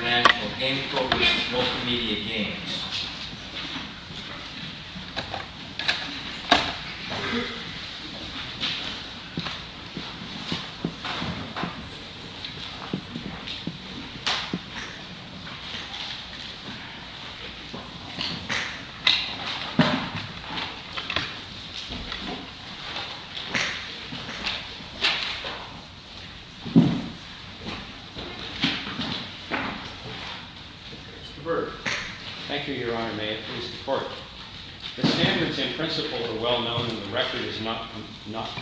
Multimedia Games Mr. Berg Thank you, Your Honor. May it please the Court. The standards in principle are well known and the record is not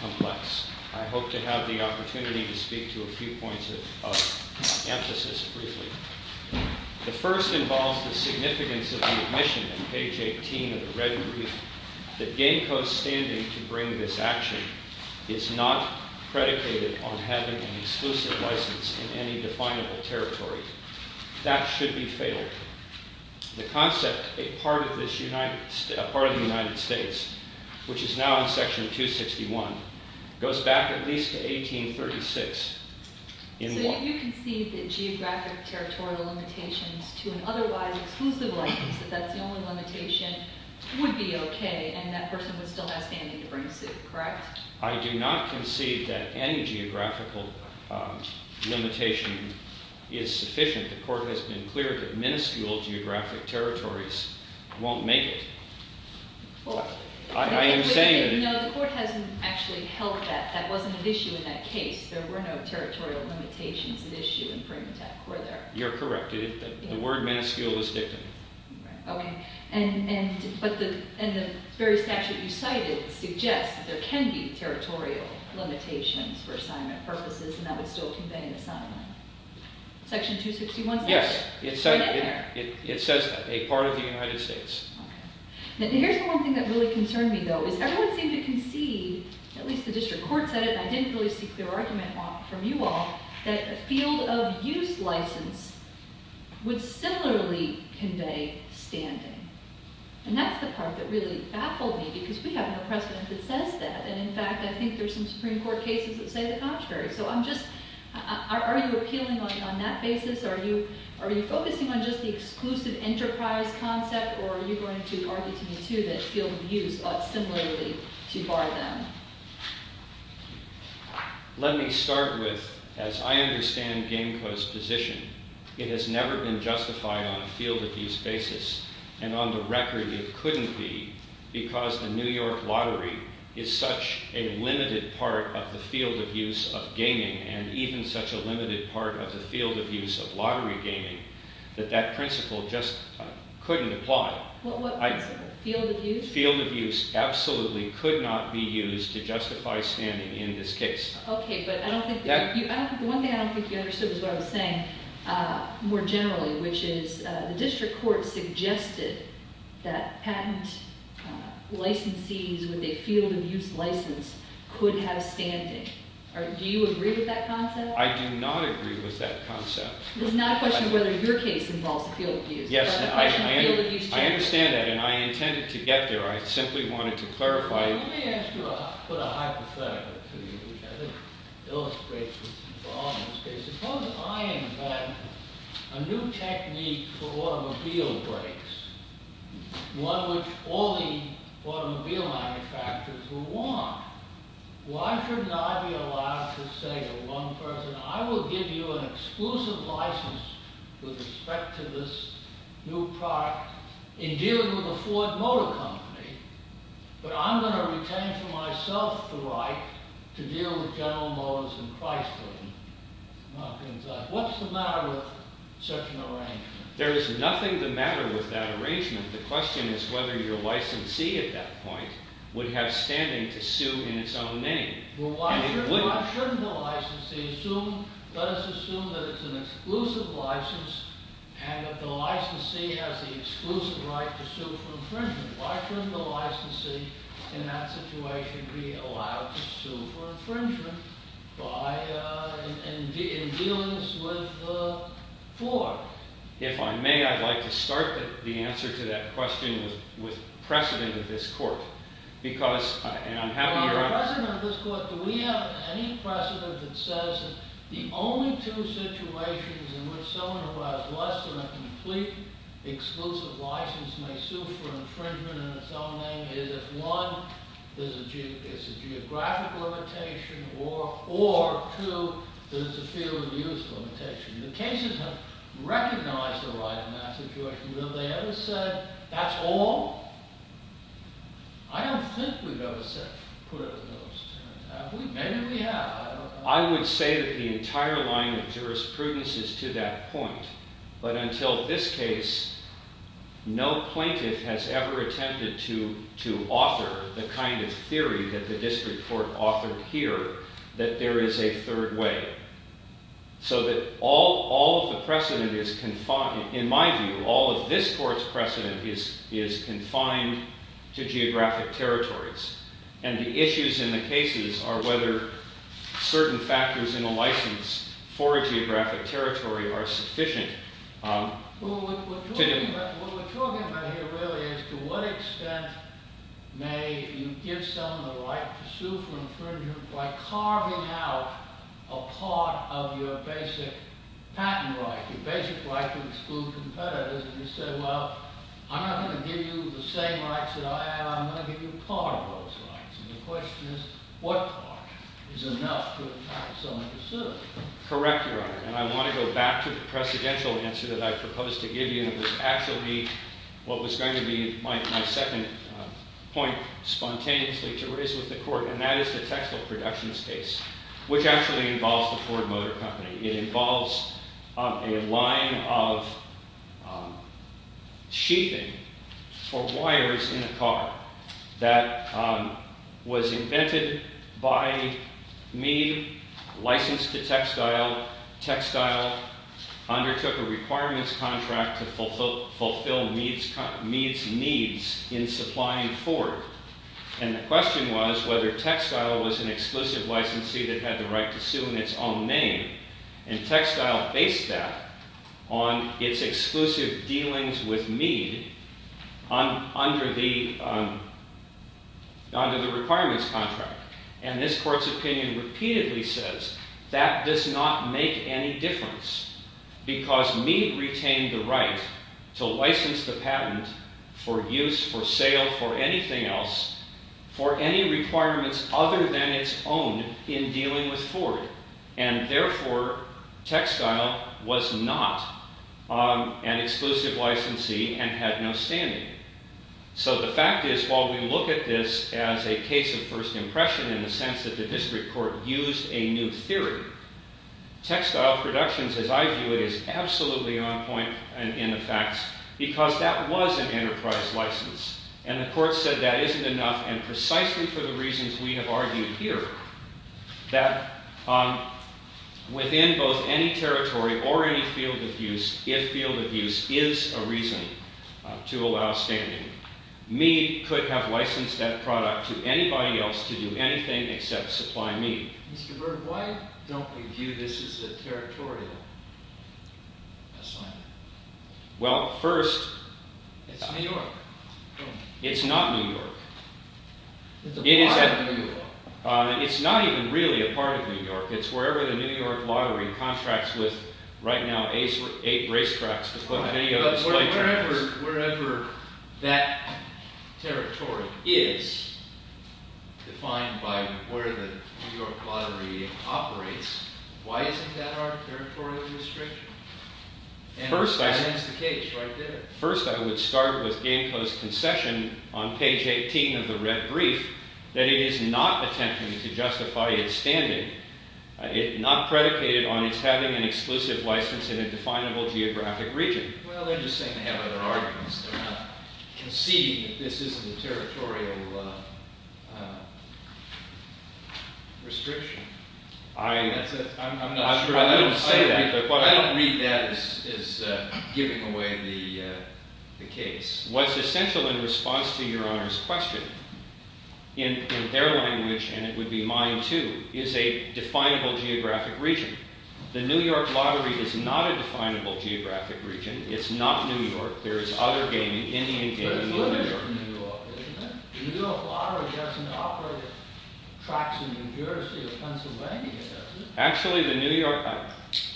complex. I hope to have the opportunity to speak to a few points of emphasis briefly. The first involves the significance of the admission in page 18 of the red brief that Gamco's standing to bring this action is not predicated on having an exclusive license in any definable territory. That should be failed. The concept, a part of the United States, which is now in Section 261, goes back at least to 1836. So you concede that geographic territorial limitations to an otherwise exclusive license, that that's the only limitation, would be okay and that person would still have standing to bring suit, correct? I do not concede that any geographical limitation is sufficient. The Court has been clear that minuscule geographic territories won't make it. I am saying that... No, the Court hasn't actually held that. That wasn't an issue in that case. There were no territorial limitations at issue in Primatech, were there? Okay, but the very statute you cited suggests that there can be territorial limitations for assignment purposes and that would still convey an assignment. Section 261 says that. Yes, it says that, a part of the United States. Okay. Here's the one thing that really concerned me, though, is everyone seemed to concede, at least the District Court said it and I didn't really see clear argument from you all, that a field of use license would similarly convey standing. And that's the part that really baffled me because we have no precedent that says that and, in fact, I think there's some Supreme Court cases that say the contrary. So I'm just... Are you appealing on that basis? Are you focusing on just the exclusive enterprise concept or are you going to argue to me, too, that field of use ought similarly to bar them? Let me start with, as I understand Gameco's position, it has never been justified on a field of use basis and on the record it couldn't be because the New York lottery is such a limited part of the field of use of gaming and even such a limited part of the field of use of lottery gaming that that principle just couldn't apply. What principle? Field of use? Field of use absolutely could not be used to justify standing in this case. Okay, but I don't think... The one thing I don't think you understood was what I was saying more generally, which is the District Court suggested that patent licensees with a field of use license could have standing. Do you agree with that concept? I do not agree with that concept. It's not a question of whether your case involves a field of use. Yes, I understand that and I intended to get there. I simply wanted to clarify... Let me put a hypothetical to you, which I think illustrates what's going on in this case. Suppose I am a new technique for automobile brakes, one which all the automobile manufacturers will want. Why shouldn't I be allowed to say to one person, I will give you an exclusive license with respect to this new product in dealing with a Ford Motor Company, but I'm going to retain for myself the right to deal with General Motors and Chrysler and other things like that. What's the matter with such an arrangement? There is nothing the matter with that arrangement. The question is whether your licensee at that point would have standing to sue in its own name. Why shouldn't the licensee assume, let us assume that it's an exclusive license and that the licensee has the exclusive right to sue for infringement. Why shouldn't the licensee in that situation be allowed to sue for infringement in dealing with Ford? If I may, I'd like to start the answer to that question with precedent of this court. President of this court, do we have any precedent that says the only two situations in which someone who has less than a complete exclusive license may sue for infringement in its own name is if one, there's a geographic limitation or two, there's a field of use limitation. The cases have recognized the right in that situation. Have they ever said, that's all? I don't think we've ever said, put it to those two. Have we? Maybe we have. I would say that the entire line of jurisprudence is to that point. But until this case, no plaintiff has ever attempted to author the kind of theory that the district court authored here that there is a third way. So that all of the precedent is confined. In my view, all of this court's precedent is confined to geographic territories. And the issues in the cases are whether certain factors in a license for a geographic territory are sufficient. What we're talking about here really is to what extent may you give someone the right to sue for infringement by carving out a part of your basic patent right, your basic right to exclude competitors, if you said, well, I'm not going to give you the same rights that I have. I'm going to give you a part of those rights. And the question is, what part is enough to attack someone to sue? Correct, Your Honor. And I want to go back to the precedential answer that I proposed to give you. And it was actually what was going to be my second point spontaneously to raise with the court. And that is the textile production case, which actually involves the Ford Motor Company. It involves a line of sheathing for wires in a car that was invented by Meade, licensed to textile. Textile undertook a requirements contract to fulfill Meade's needs in supplying Ford. And the question was whether textile was an exclusive licensee that had the right to sue in its own name. And textile based that on its exclusive dealings with Meade under the requirements contract. And this court's opinion repeatedly says that does not make any difference, because Meade retained the right to license the patent for use, for sale, for anything else, for any requirements other than its own in dealing with Ford. And therefore, textile was not an exclusive licensee and had no standing. So the fact is, while we look at this as a case of first impression in the sense that the district court used a new theory, textile productions, as I view it, is absolutely on point in the facts, because that was an enterprise license. And the court said that isn't enough, and precisely for the reasons we have argued here, that within both any territory or any field of use, if field of use is a reason to allow standing, Meade could have licensed that product to anybody else to do anything except supply Meade. Mr. Berg, why don't we view this as a territorial assignment? Well, first, it's New York. It's not New York. It's a part of New York. It's not even really a part of New York. It's wherever the New York lottery contracts with, right now, eight racetracks to put many of its play tracks. But wherever that territory is defined by where the New York lottery operates, why isn't that our territorial restriction? And that's the case right there. First, I would start with Gameco's concession on page 18 of the red brief, that it is not attempting to justify its standing, not predicated on its having an exclusive license in a definable geographic region. Well, they're just saying they have other arguments. They're not conceding that this isn't a territorial restriction. That's it. I'm not sure. I wouldn't say that. I don't read that as giving away the case. What's essential in response to your Honor's question, in their language, and it would be mine too, is a definable geographic region. The New York lottery is not a definable geographic region. It's not New York. There is other gaming, Indian gaming in New York. But it's limited to New York, isn't it? at tracks in New Jersey or Pennsylvania, does it? Actually,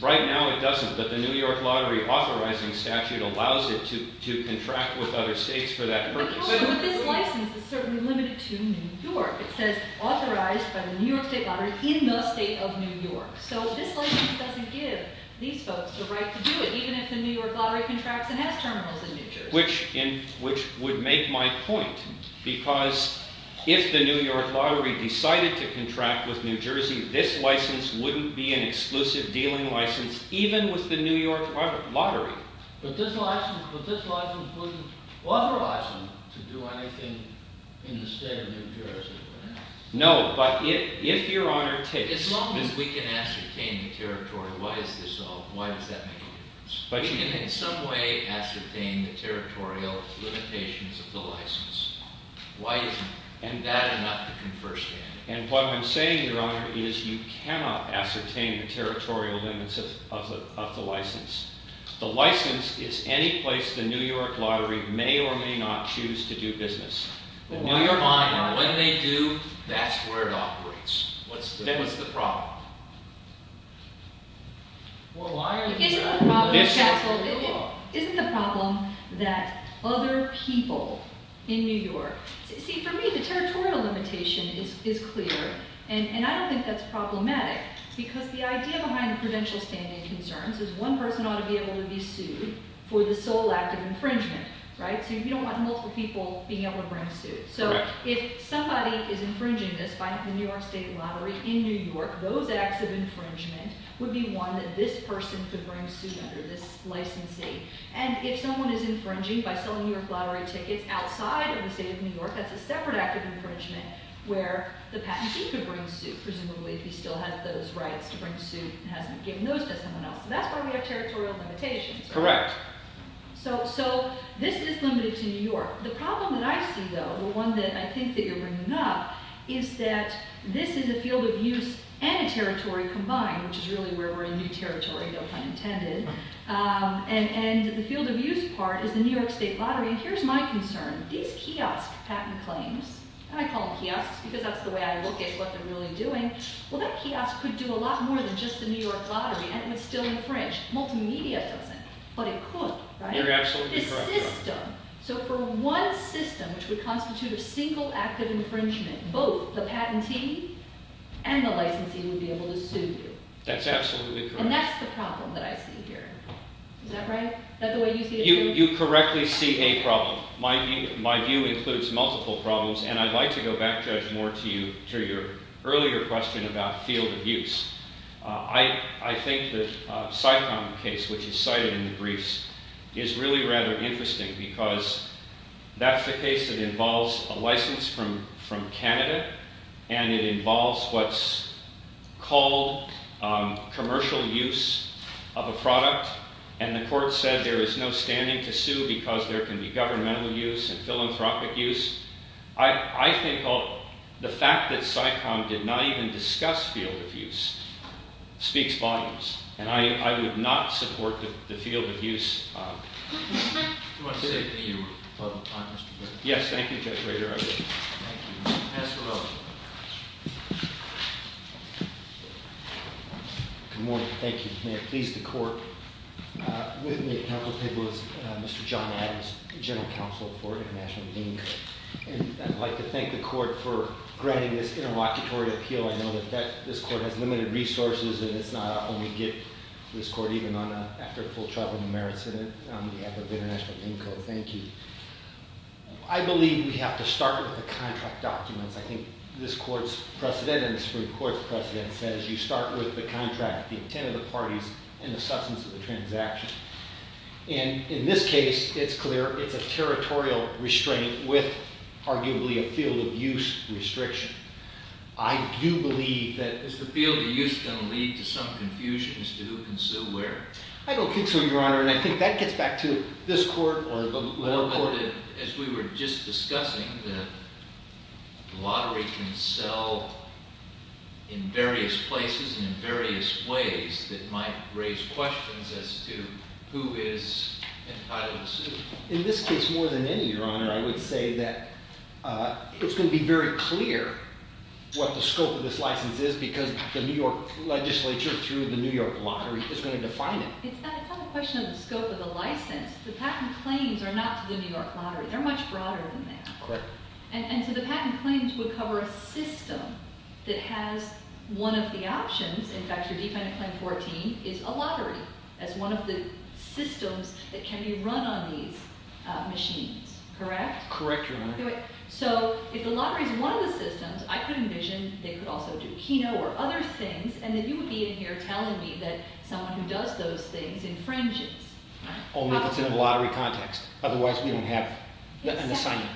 right now it doesn't. But the New York lottery authorizing statute allows it to contract with other states for that purpose. But this license is certainly limited to New York. It says authorized by the New York state lottery in the state of New York. So this license doesn't give these folks the right to do it, even if the New York lottery contracts and has terminals in New Jersey. Which would make my point, because if the New York lottery decided to contract with New Jersey, this license wouldn't be an exclusive dealing license, even with the New York lottery. But this license wouldn't authorize them to do anything in the state of New Jersey, would it? No, but if your Honor takes it. As long as we can ascertain the territory, why is this so? Why does that make a difference? We can, in some way, ascertain the territorial limitations of the license. Why isn't that enough to confer standing? And what I'm saying, Your Honor, is you cannot ascertain the territorial limits of the license. The license is any place the New York lottery may or may not choose to do business. The New York lottery. Well, why are they buying it? What do they do? That's where it operates. What's the problem? Well, why are they buying it? Isn't the problem that other people in New York. See, for me, the territorial limitation is clear. And I don't think that's problematic. Because the idea behind the prudential standing concerns is one person ought to be able to be sued for the sole act of infringement. So you don't want multiple people being able to bring suits. So if somebody is infringing this by the New York state lottery in New York, those acts of infringement would be one that this person could bring suit under this licensee. And if someone is infringing by selling New York lottery tickets outside of the state of New York, that's a separate act of infringement where the patentee could bring suit, presumably, if he still has those rights to bring suit and hasn't given those to someone else. So that's why we have territorial limitations. Correct. So this is limited to New York. The problem that I see, though, or one that I think that you're bringing up, is that this is a field of use and a territory combined, which is really where we're in new territory, though pun intended. And the field of use part is the New York state lottery. And here's my concern. These kiosk patent claims, and I call them kiosks because that's the way I look at what they're really doing, well, that kiosk could do a lot more than just the New York lottery, and it would still infringe. Multimedia doesn't. But it could, right? You're absolutely correct. This system, so for one system which would constitute a single act of infringement, both the patentee and the licensee would be able to sue you. That's absolutely correct. And that's the problem that I see here. Is that right? Is that the way you see it too? You correctly see a problem. My view includes multiple problems. And I'd like to go back, Judge Moore, to your earlier question about field of use. I think the Sycom case, which is cited in the briefs, is really rather interesting because that's the case that involves a license from Canada, and it involves what's called commercial use of a product. And the court said there is no standing to sue because there can be governmental use and philanthropic use. I think the fact that Sycom did not even discuss field of use speaks volumes. And I would not support the field of use. Do you want to say a few final comments? Yes. Thank you, Judge Rader. I will. Thank you. Mr. O. Good morning. Thank you. May it please the court. With me at council table is Mr. John Adams, general counsel for International Dean Co. And I'd like to thank the court for granting this interlocutory appeal. I know that this court has limited resources, and it's not an only gift to this court, even after full travel and merits, on behalf of International Dean Co. Thank you. I believe we have to start with the contract documents. precedent says you start with the contract, the intent of the parties, and the substance of the transaction. And in this case, it's clear it's a territorial restraint with, arguably, a field of use restriction. I do believe that it's the field of use going to lead to some confusion as to who can sue where. I don't think so, Your Honor. And I think that gets back to this court or the lower court. As we were just discussing, the lottery can sell in various places and in various ways that might raise questions as to who is entitled to sue. In this case, more than any, Your Honor, I would say that it's going to be very clear what the scope of this license is because the New York legislature, through the New York lottery, is going to define it. It's not a question of the scope of the license. The patent claims are not to the New York lottery. They're much broader than that. And so the patent claims would cover a system that has one of the options. In fact, your Defendant Claim 14 is a lottery as one of the systems that can be run on these machines. Correct? Correct, Your Honor. So if the lottery is one of the systems, I could envision they could also do Keno or other things. And then you would be in here telling me that someone who does those things infringes. Only if it's in a lottery context. Otherwise, we don't have an assignment.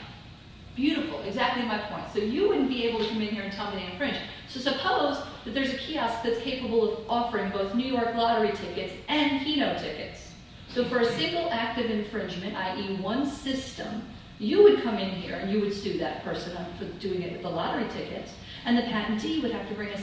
Beautiful. Exactly my point. So you wouldn't be able to come in here and tell me to infringe. So suppose that there's a kiosk that's capable of offering both New York lottery tickets and Keno tickets. So for a single act of infringement, i.e. one system, you would come in here and you would sue that person for doing it with the lottery tickets. And the patentee would have to bring a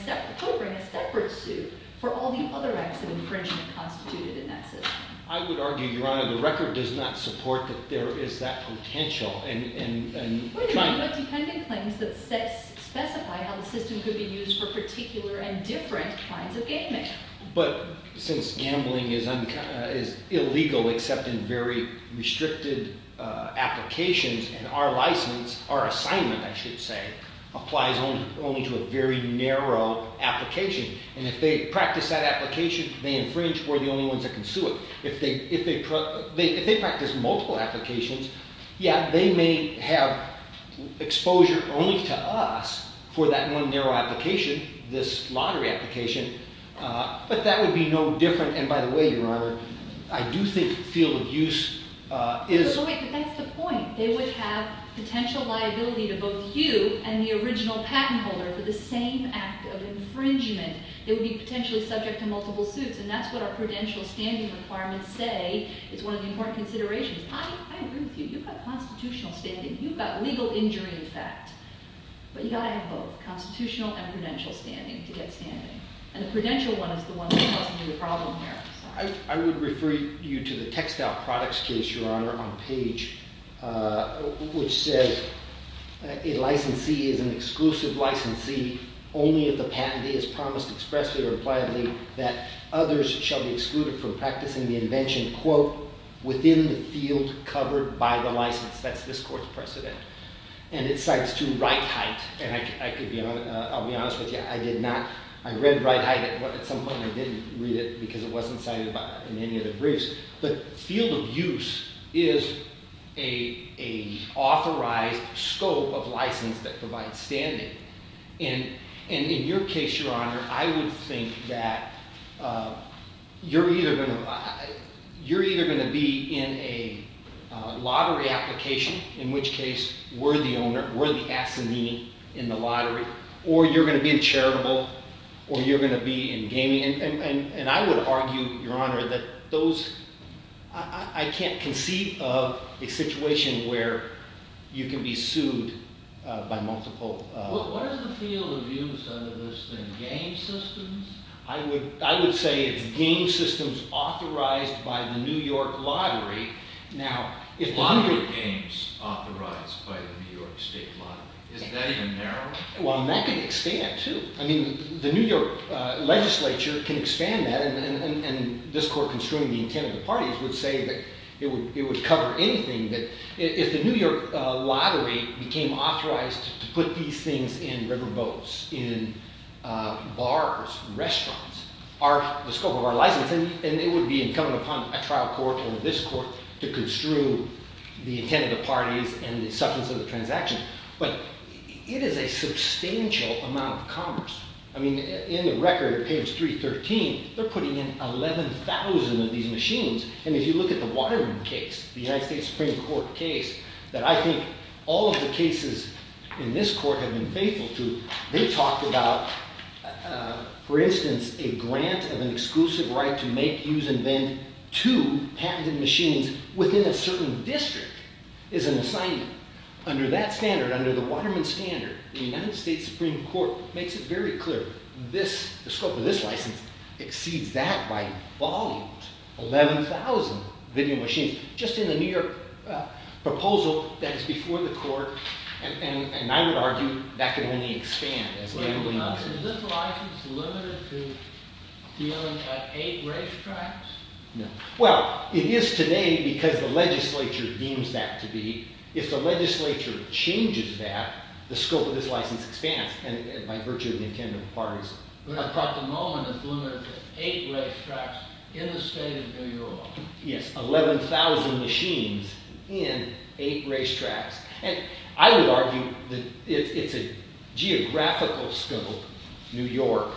separate suit for all the other acts of infringement constituted in that system. I would argue, Your Honor, the record does not support that there is that potential. We're talking about dependent claims that specify how the system could be used for particular and different kinds of game making. But since gambling is illegal except in very restricted applications, and our license, our assignment, I should say, applies only to a very narrow application. And if they practice that application, they infringe. We're the only ones that can sue it. If they practice multiple applications, yeah, they may have exposure only to us for that one narrow application, this lottery application. But that would be no different. And by the way, Your Honor, I do think the field of use is. But that's the point. They would have potential liability to both you and the original patent holder for the same act of infringement. They would be potentially subject to multiple suits. And that's what our prudential standing requirements say is one of the important considerations. I agree with you. You've got constitutional standing. You've got legal injury effect. But you've got to have both, constitutional and prudential standing to get standing. And the prudential one is the one that causes you the problem there. I would refer you to the textile products case, Your Honor, on page which says, a licensee is an exclusive licensee only if the patentee has promised expressly or impliedly that others shall be excluded from practicing the invention, quote, within the field covered by the license. That's this court's precedent. And it cites to Wright-Height. And I'll be honest with you. I did not. I read Wright-Height. At some point, I didn't read it because it wasn't cited in any of the briefs. But field of use is a authorized scope of license that provides standing. And in your case, Your Honor, I would think that you're either going to be in a lottery application, in which case, we're the owner. We're the assignee in the lottery. Or you're going to be in charitable. Or you're going to be in gaming. And I would argue, Your Honor, that I can't conceive of a situation where you can be sued by multiple. What is the field of use under this then? Game systems? I would say it's game systems authorized by the New York Lottery. Lottery games authorized by the New York State Lottery. Is that even narrow? Well, and that can expand, too. I mean, the New York legislature can expand that. And this court, construing the intent of the parties, would say that it would cover anything. If the New York Lottery became authorized to put these things in riverboats, in bars, restaurants, the scope of our license, then it would be incumbent upon a trial court or this court to construe the intent of the parties and the substance of the transaction. But it is a substantial amount of commerce. I mean, in the record, page 313, they're putting in 11,000 of these machines. And if you look at the Waterman case, the United States Supreme Court case, that I think all of the cases in this court have been faithful to, they talked about, for instance, a grant of an exclusive right to make, use, and vend two patented machines within a certain district is an assignment. Under that standard, under the Waterman standard, the United States Supreme Court makes it very clear the scope of this license exceeds that by volumes, 11,000 video machines, just in the New York proposal that is before the court. And I would argue that can only expand. Is this license limited to dealing at eight racetracks? No. Well, it is today because the legislature deems that to be. If the legislature changes that, the scope of this license expands by virtue of the intent of the parties. But I thought the moment is limited to eight racetracks in the state of New York. Yes, 11,000 machines in eight racetracks. And I would argue that it's a geographical scope, New York,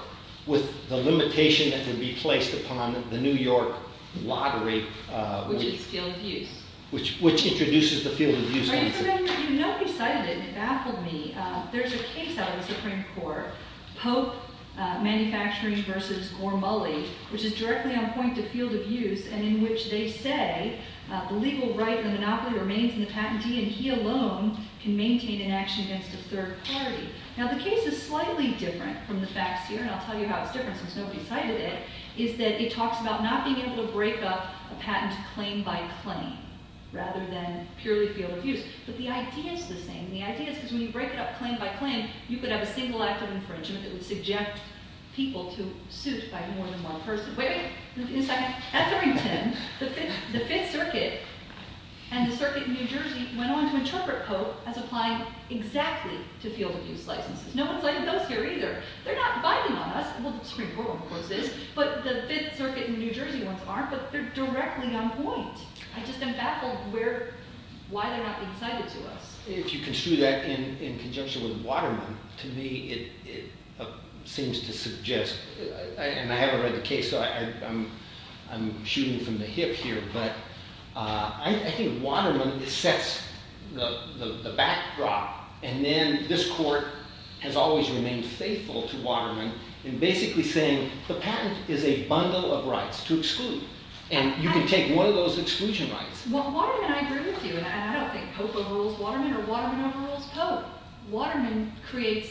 with the limitation that would be placed upon the New York lottery. Which is field of use. Which introduces the field of use. You know, you cited it and it baffled me. There's a case out of the Supreme Court. Pope Manufacturing versus Gore Mulley. Which is directly on point to field of use. And in which they say, the legal right and the monopoly remains in the patentee. And he alone can maintain an action against a third party. Now the case is slightly different from the facts here. And I'll tell you how it's different, since nobody cited it. Is that it talks about not being able to break up a patent claim by claim. Rather than purely field of use. But the idea is the same. The idea is because when you break it up claim by claim, you could have a single act of infringement that would suggest people to suit by more than one person. Wait a second. At 310, the Fifth Circuit and the Circuit in New Jersey went on to interpret Pope as applying exactly to field of use licenses. No one cited those here either. They're not biting on us. Well, the Supreme Court of course is. But the Fifth Circuit in New Jersey ones aren't. But they're directly on point. I just am baffled why they're not being cited to us. If you construe that in conjunction with Waterman, to me it seems to suggest, and I haven't read the case, so I'm shooting from the hip here. But I think Waterman sets the backdrop. And then this court has always remained faithful to Waterman in basically saying the patent is a bundle of rights to exclude. And you can take one of those exclusion rights. Well, Waterman, I agree with you. And I don't think Pope overrules Waterman or Waterman overrules Pope. Waterman creates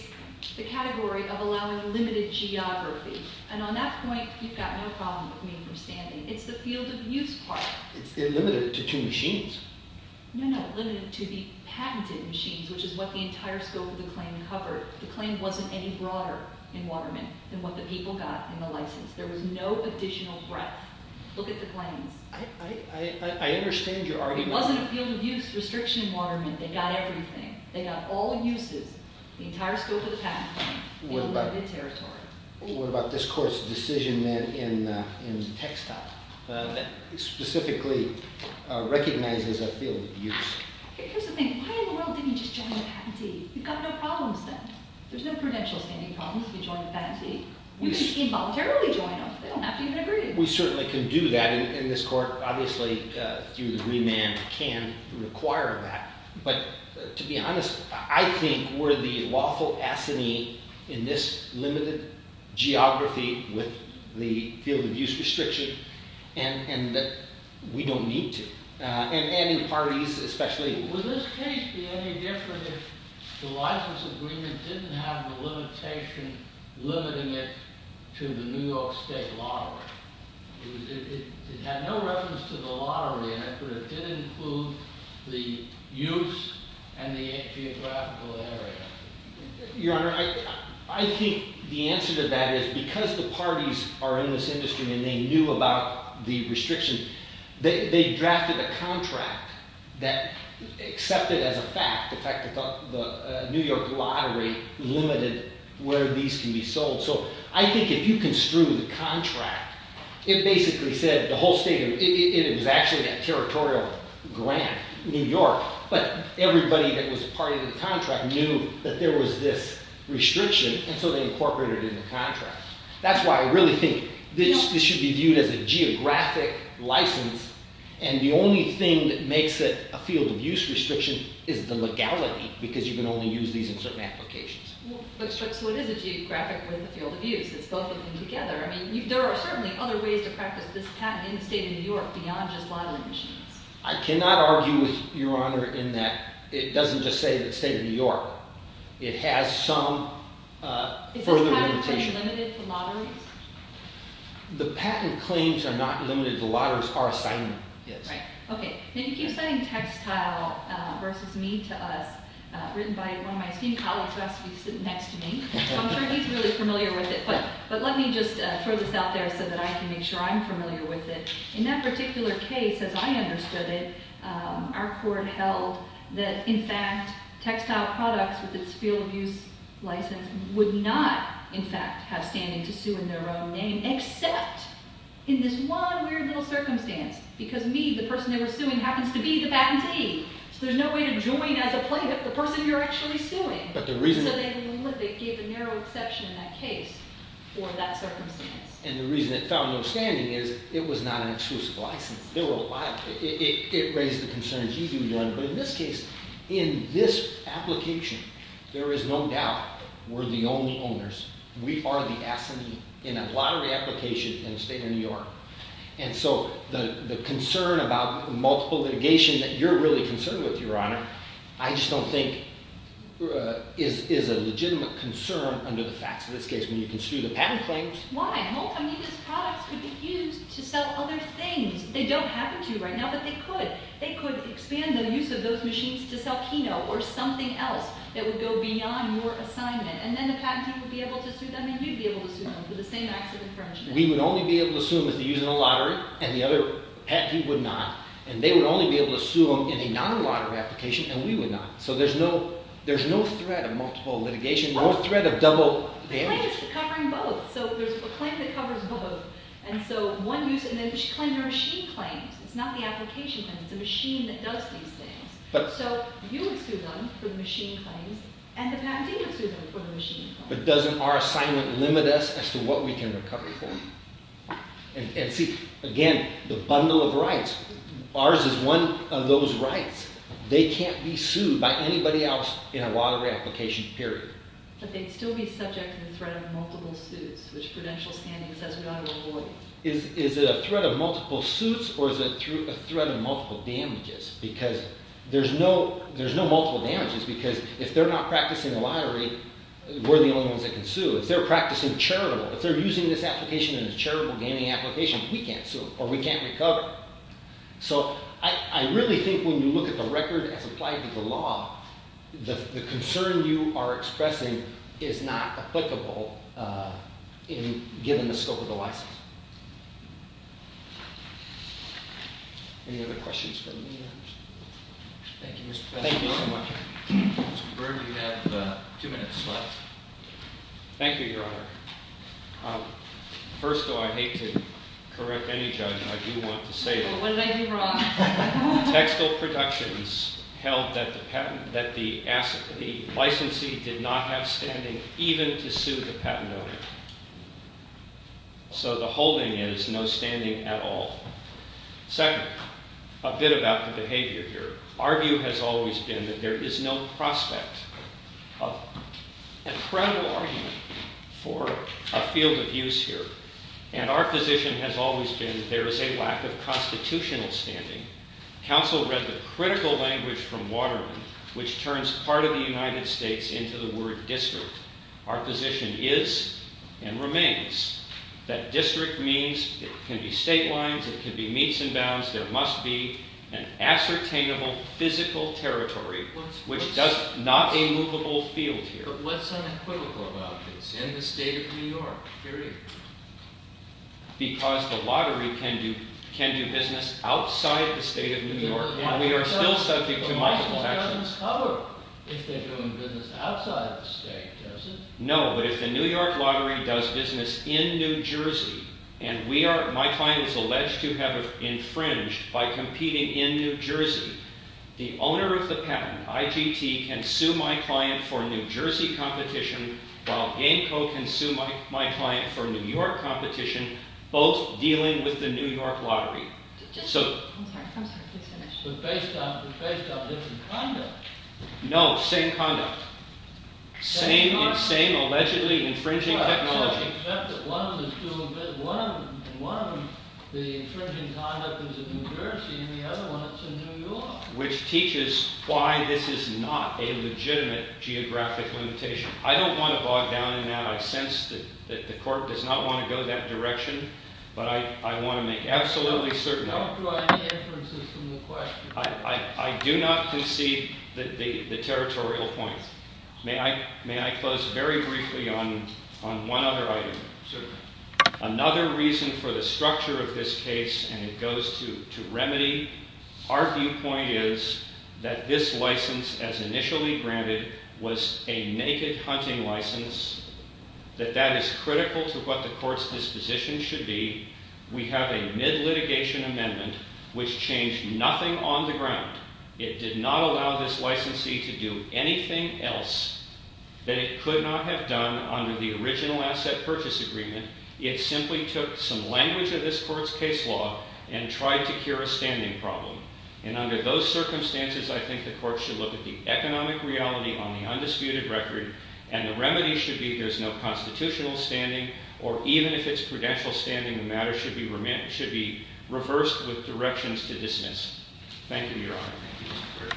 the category of allowing limited geography. And on that point, you've got no problem with me understanding. It's the field of use part. It's limited to two machines. No, no, limited to the patented machines, which is what the entire scope of the claim covered. The claim wasn't any broader in Waterman than what the people got in the license. There was no additional breadth. Look at the claims. I understand you're arguing that. It wasn't a field of use restriction in Waterman. They got everything. They got all uses, the entire scope of the patent claim, and limited territory. What about this court's decision then in textile that specifically recognizes a field of use? Here's the thing. Why in the world didn't you just join the patentee? You've got no problems then. There's no prudential standing problems if you join the patentee. You can involuntarily join them. They don't have to even agree. We certainly can do that in this court. Obviously, through the agreement, we can require that. But to be honest, I think we're the lawful assignee in this limited geography with the field of use restriction, and we don't need to. And any parties, especially. Would this case be any different if the license agreement didn't have the limitation limiting it to the New York State lottery? It had no reference to the lottery in it, but it did include the use and the geographical area. Your Honor, I think the answer to that is because the parties are in this industry and they knew about the restriction, they drafted a contract that accepted as a fact the fact that the New York lottery limited where these can be sold. So I think if you construe the contract, it basically said the whole state, it was actually that territorial grant, New York, but everybody that was a part of the contract knew that there was this restriction, and so they incorporated it in the contract. That's why I really think this should be viewed as a geographic license, and the only thing that makes it a field of use restriction is the legality, because you can only use these in certain applications. So it is a geographic field of use. It's both of them together. There are certainly other ways to practice this patent in the state of New York beyond just lottery machines. I cannot argue with Your Honor in that it doesn't just say the state of New York. It has some further limitation. Is the patent claim limited to lotteries? The patent claims are not limited to lotteries. Our assignment is. You keep saying textile versus me to us. Written by one of my esteemed colleagues who asked me to sit next to me. I'm sure he's really familiar with it, but let me just throw this out there so that I can make sure I'm familiar with it. In that particular case, as I understood it, our court held that, in fact, textile products with its field of use license would not, in fact, have standing to sue in their own name, except in this one weird little circumstance, because me, the person they were suing, happens to be the patentee. So there's no way to join as a plaintiff the person you're actually suing. So they gave the narrow exception in that case for that circumstance. And the reason it found no standing is it was not an exclusive license. It raised the concerns you do, Your Honor. But in this case, in this application, there is no doubt we're the only owners. We are the assignee in a lottery application in the state of New York. And so the concern about multiple litigation that you're really concerned with, Your Honor, I just don't think is a legitimate concern under the facts of this case. When you can sue the patent claims... Why? I mean, these products could be used to sell other things. They don't have to right now, but they could. They could expand the use of those machines to sell Kino or something else that would go beyond your assignment. And then the patentee would be able to sue them, and you'd be able to sue them for the same acts of infringement. We would only be able to sue them if they're using a lottery, and the other patentee would not. And they would only be able to sue them in a non-lottery application, and we would not. So there's no threat of multiple litigation, no threat of double damages. The claim is covering both. So there's a claim that covers both. And so one user... And then you should claim your machine claims. It's not the application claims. It's the machine that does these things. So you would sue them for the machine claims, and the patentee would sue them for the machine claims. But doesn't our assignment limit us as to what we can recover for? And see, again, the bundle of rights ours is one of those rights. They can't be sued by anybody else in a lottery application, period. But they'd still be subject to the threat of multiple suits, which Prudential standing says we ought to avoid. Is it a threat of multiple suits, or is it a threat of multiple damages? Because there's no multiple damages, because if they're not practicing the lottery, we're the only ones that can sue. If they're practicing charitable, if they're using this application in a charitable gaming application, we can't sue them, or we can't recover. So I really think when you look at the record as applied to the law, the concern you are expressing is not applicable given the scope of the license. Any other questions for me? Thank you, Mr. President. Thank you so much. Mr. Berger, you have two minutes left. Thank you, Your Honor. First, though, I hate to correct any judge, and I do want to say it. What did I do wrong? Textile Productions held that the licensee did not have standing even to sue the patent owner. So the holding is no standing at all. Second, a bit about the behavior here. Our view has always been that there is no prospect of a credible argument for a field of use here. And our position has always been there is a lack of constitutional standing. Counsel read the critical language from Waterman which turns part of the United States into the word district. Our position is and remains that district means it can be state lines, it can be meets and bounds, there must be an ascertainable physical territory which does not a movable field here. But what's unequivocal about this? It's in the state of New York, period. Because the lottery can do business outside the state of New York. And we are still subject to my protections. But my protections cover if they're doing business outside the state, does it? No, but if the New York lottery does business in New Jersey, and my client is alleged to have infringed by competing in New Jersey, the owner of the patent, IGT, can sue my client for New Jersey competition, while Gameco can sue my client for New York competition, both dealing with the New York lottery. I'm sorry, please finish. But based on different conduct. No, same conduct. Same allegedly infringing technology. Except that one of them is doing business, and one of them, the infringing conduct is in New Jersey, and the other one is in New York. Which teaches why this is not a legitimate geographic limitation. I don't want to bog down in that. I sense that the court does not want to go that direction. But I want to make absolutely certain. Don't draw any inferences from the question. I do not concede the territorial point. May I close very briefly on one other item? Certainly. Another reason for the structure of this case, and it goes to remedy. Our viewpoint is that this license, as initially granted, was a naked hunting license. That that is critical to what the court's disposition should be. We have a mid-litigation amendment, which changed nothing on the ground. It did not allow this licensee to do anything else that it could not have done under the original asset purchase agreement. It simply took some language of this court's case law and tried to cure a standing problem. And under those circumstances, I think the court should look at the economic reality on the undisputed record. And the remedy should be there's no constitutional standing, or even if it's prudential standing, the matter should be reversed with directions to dismiss. Thank you, Your Honor.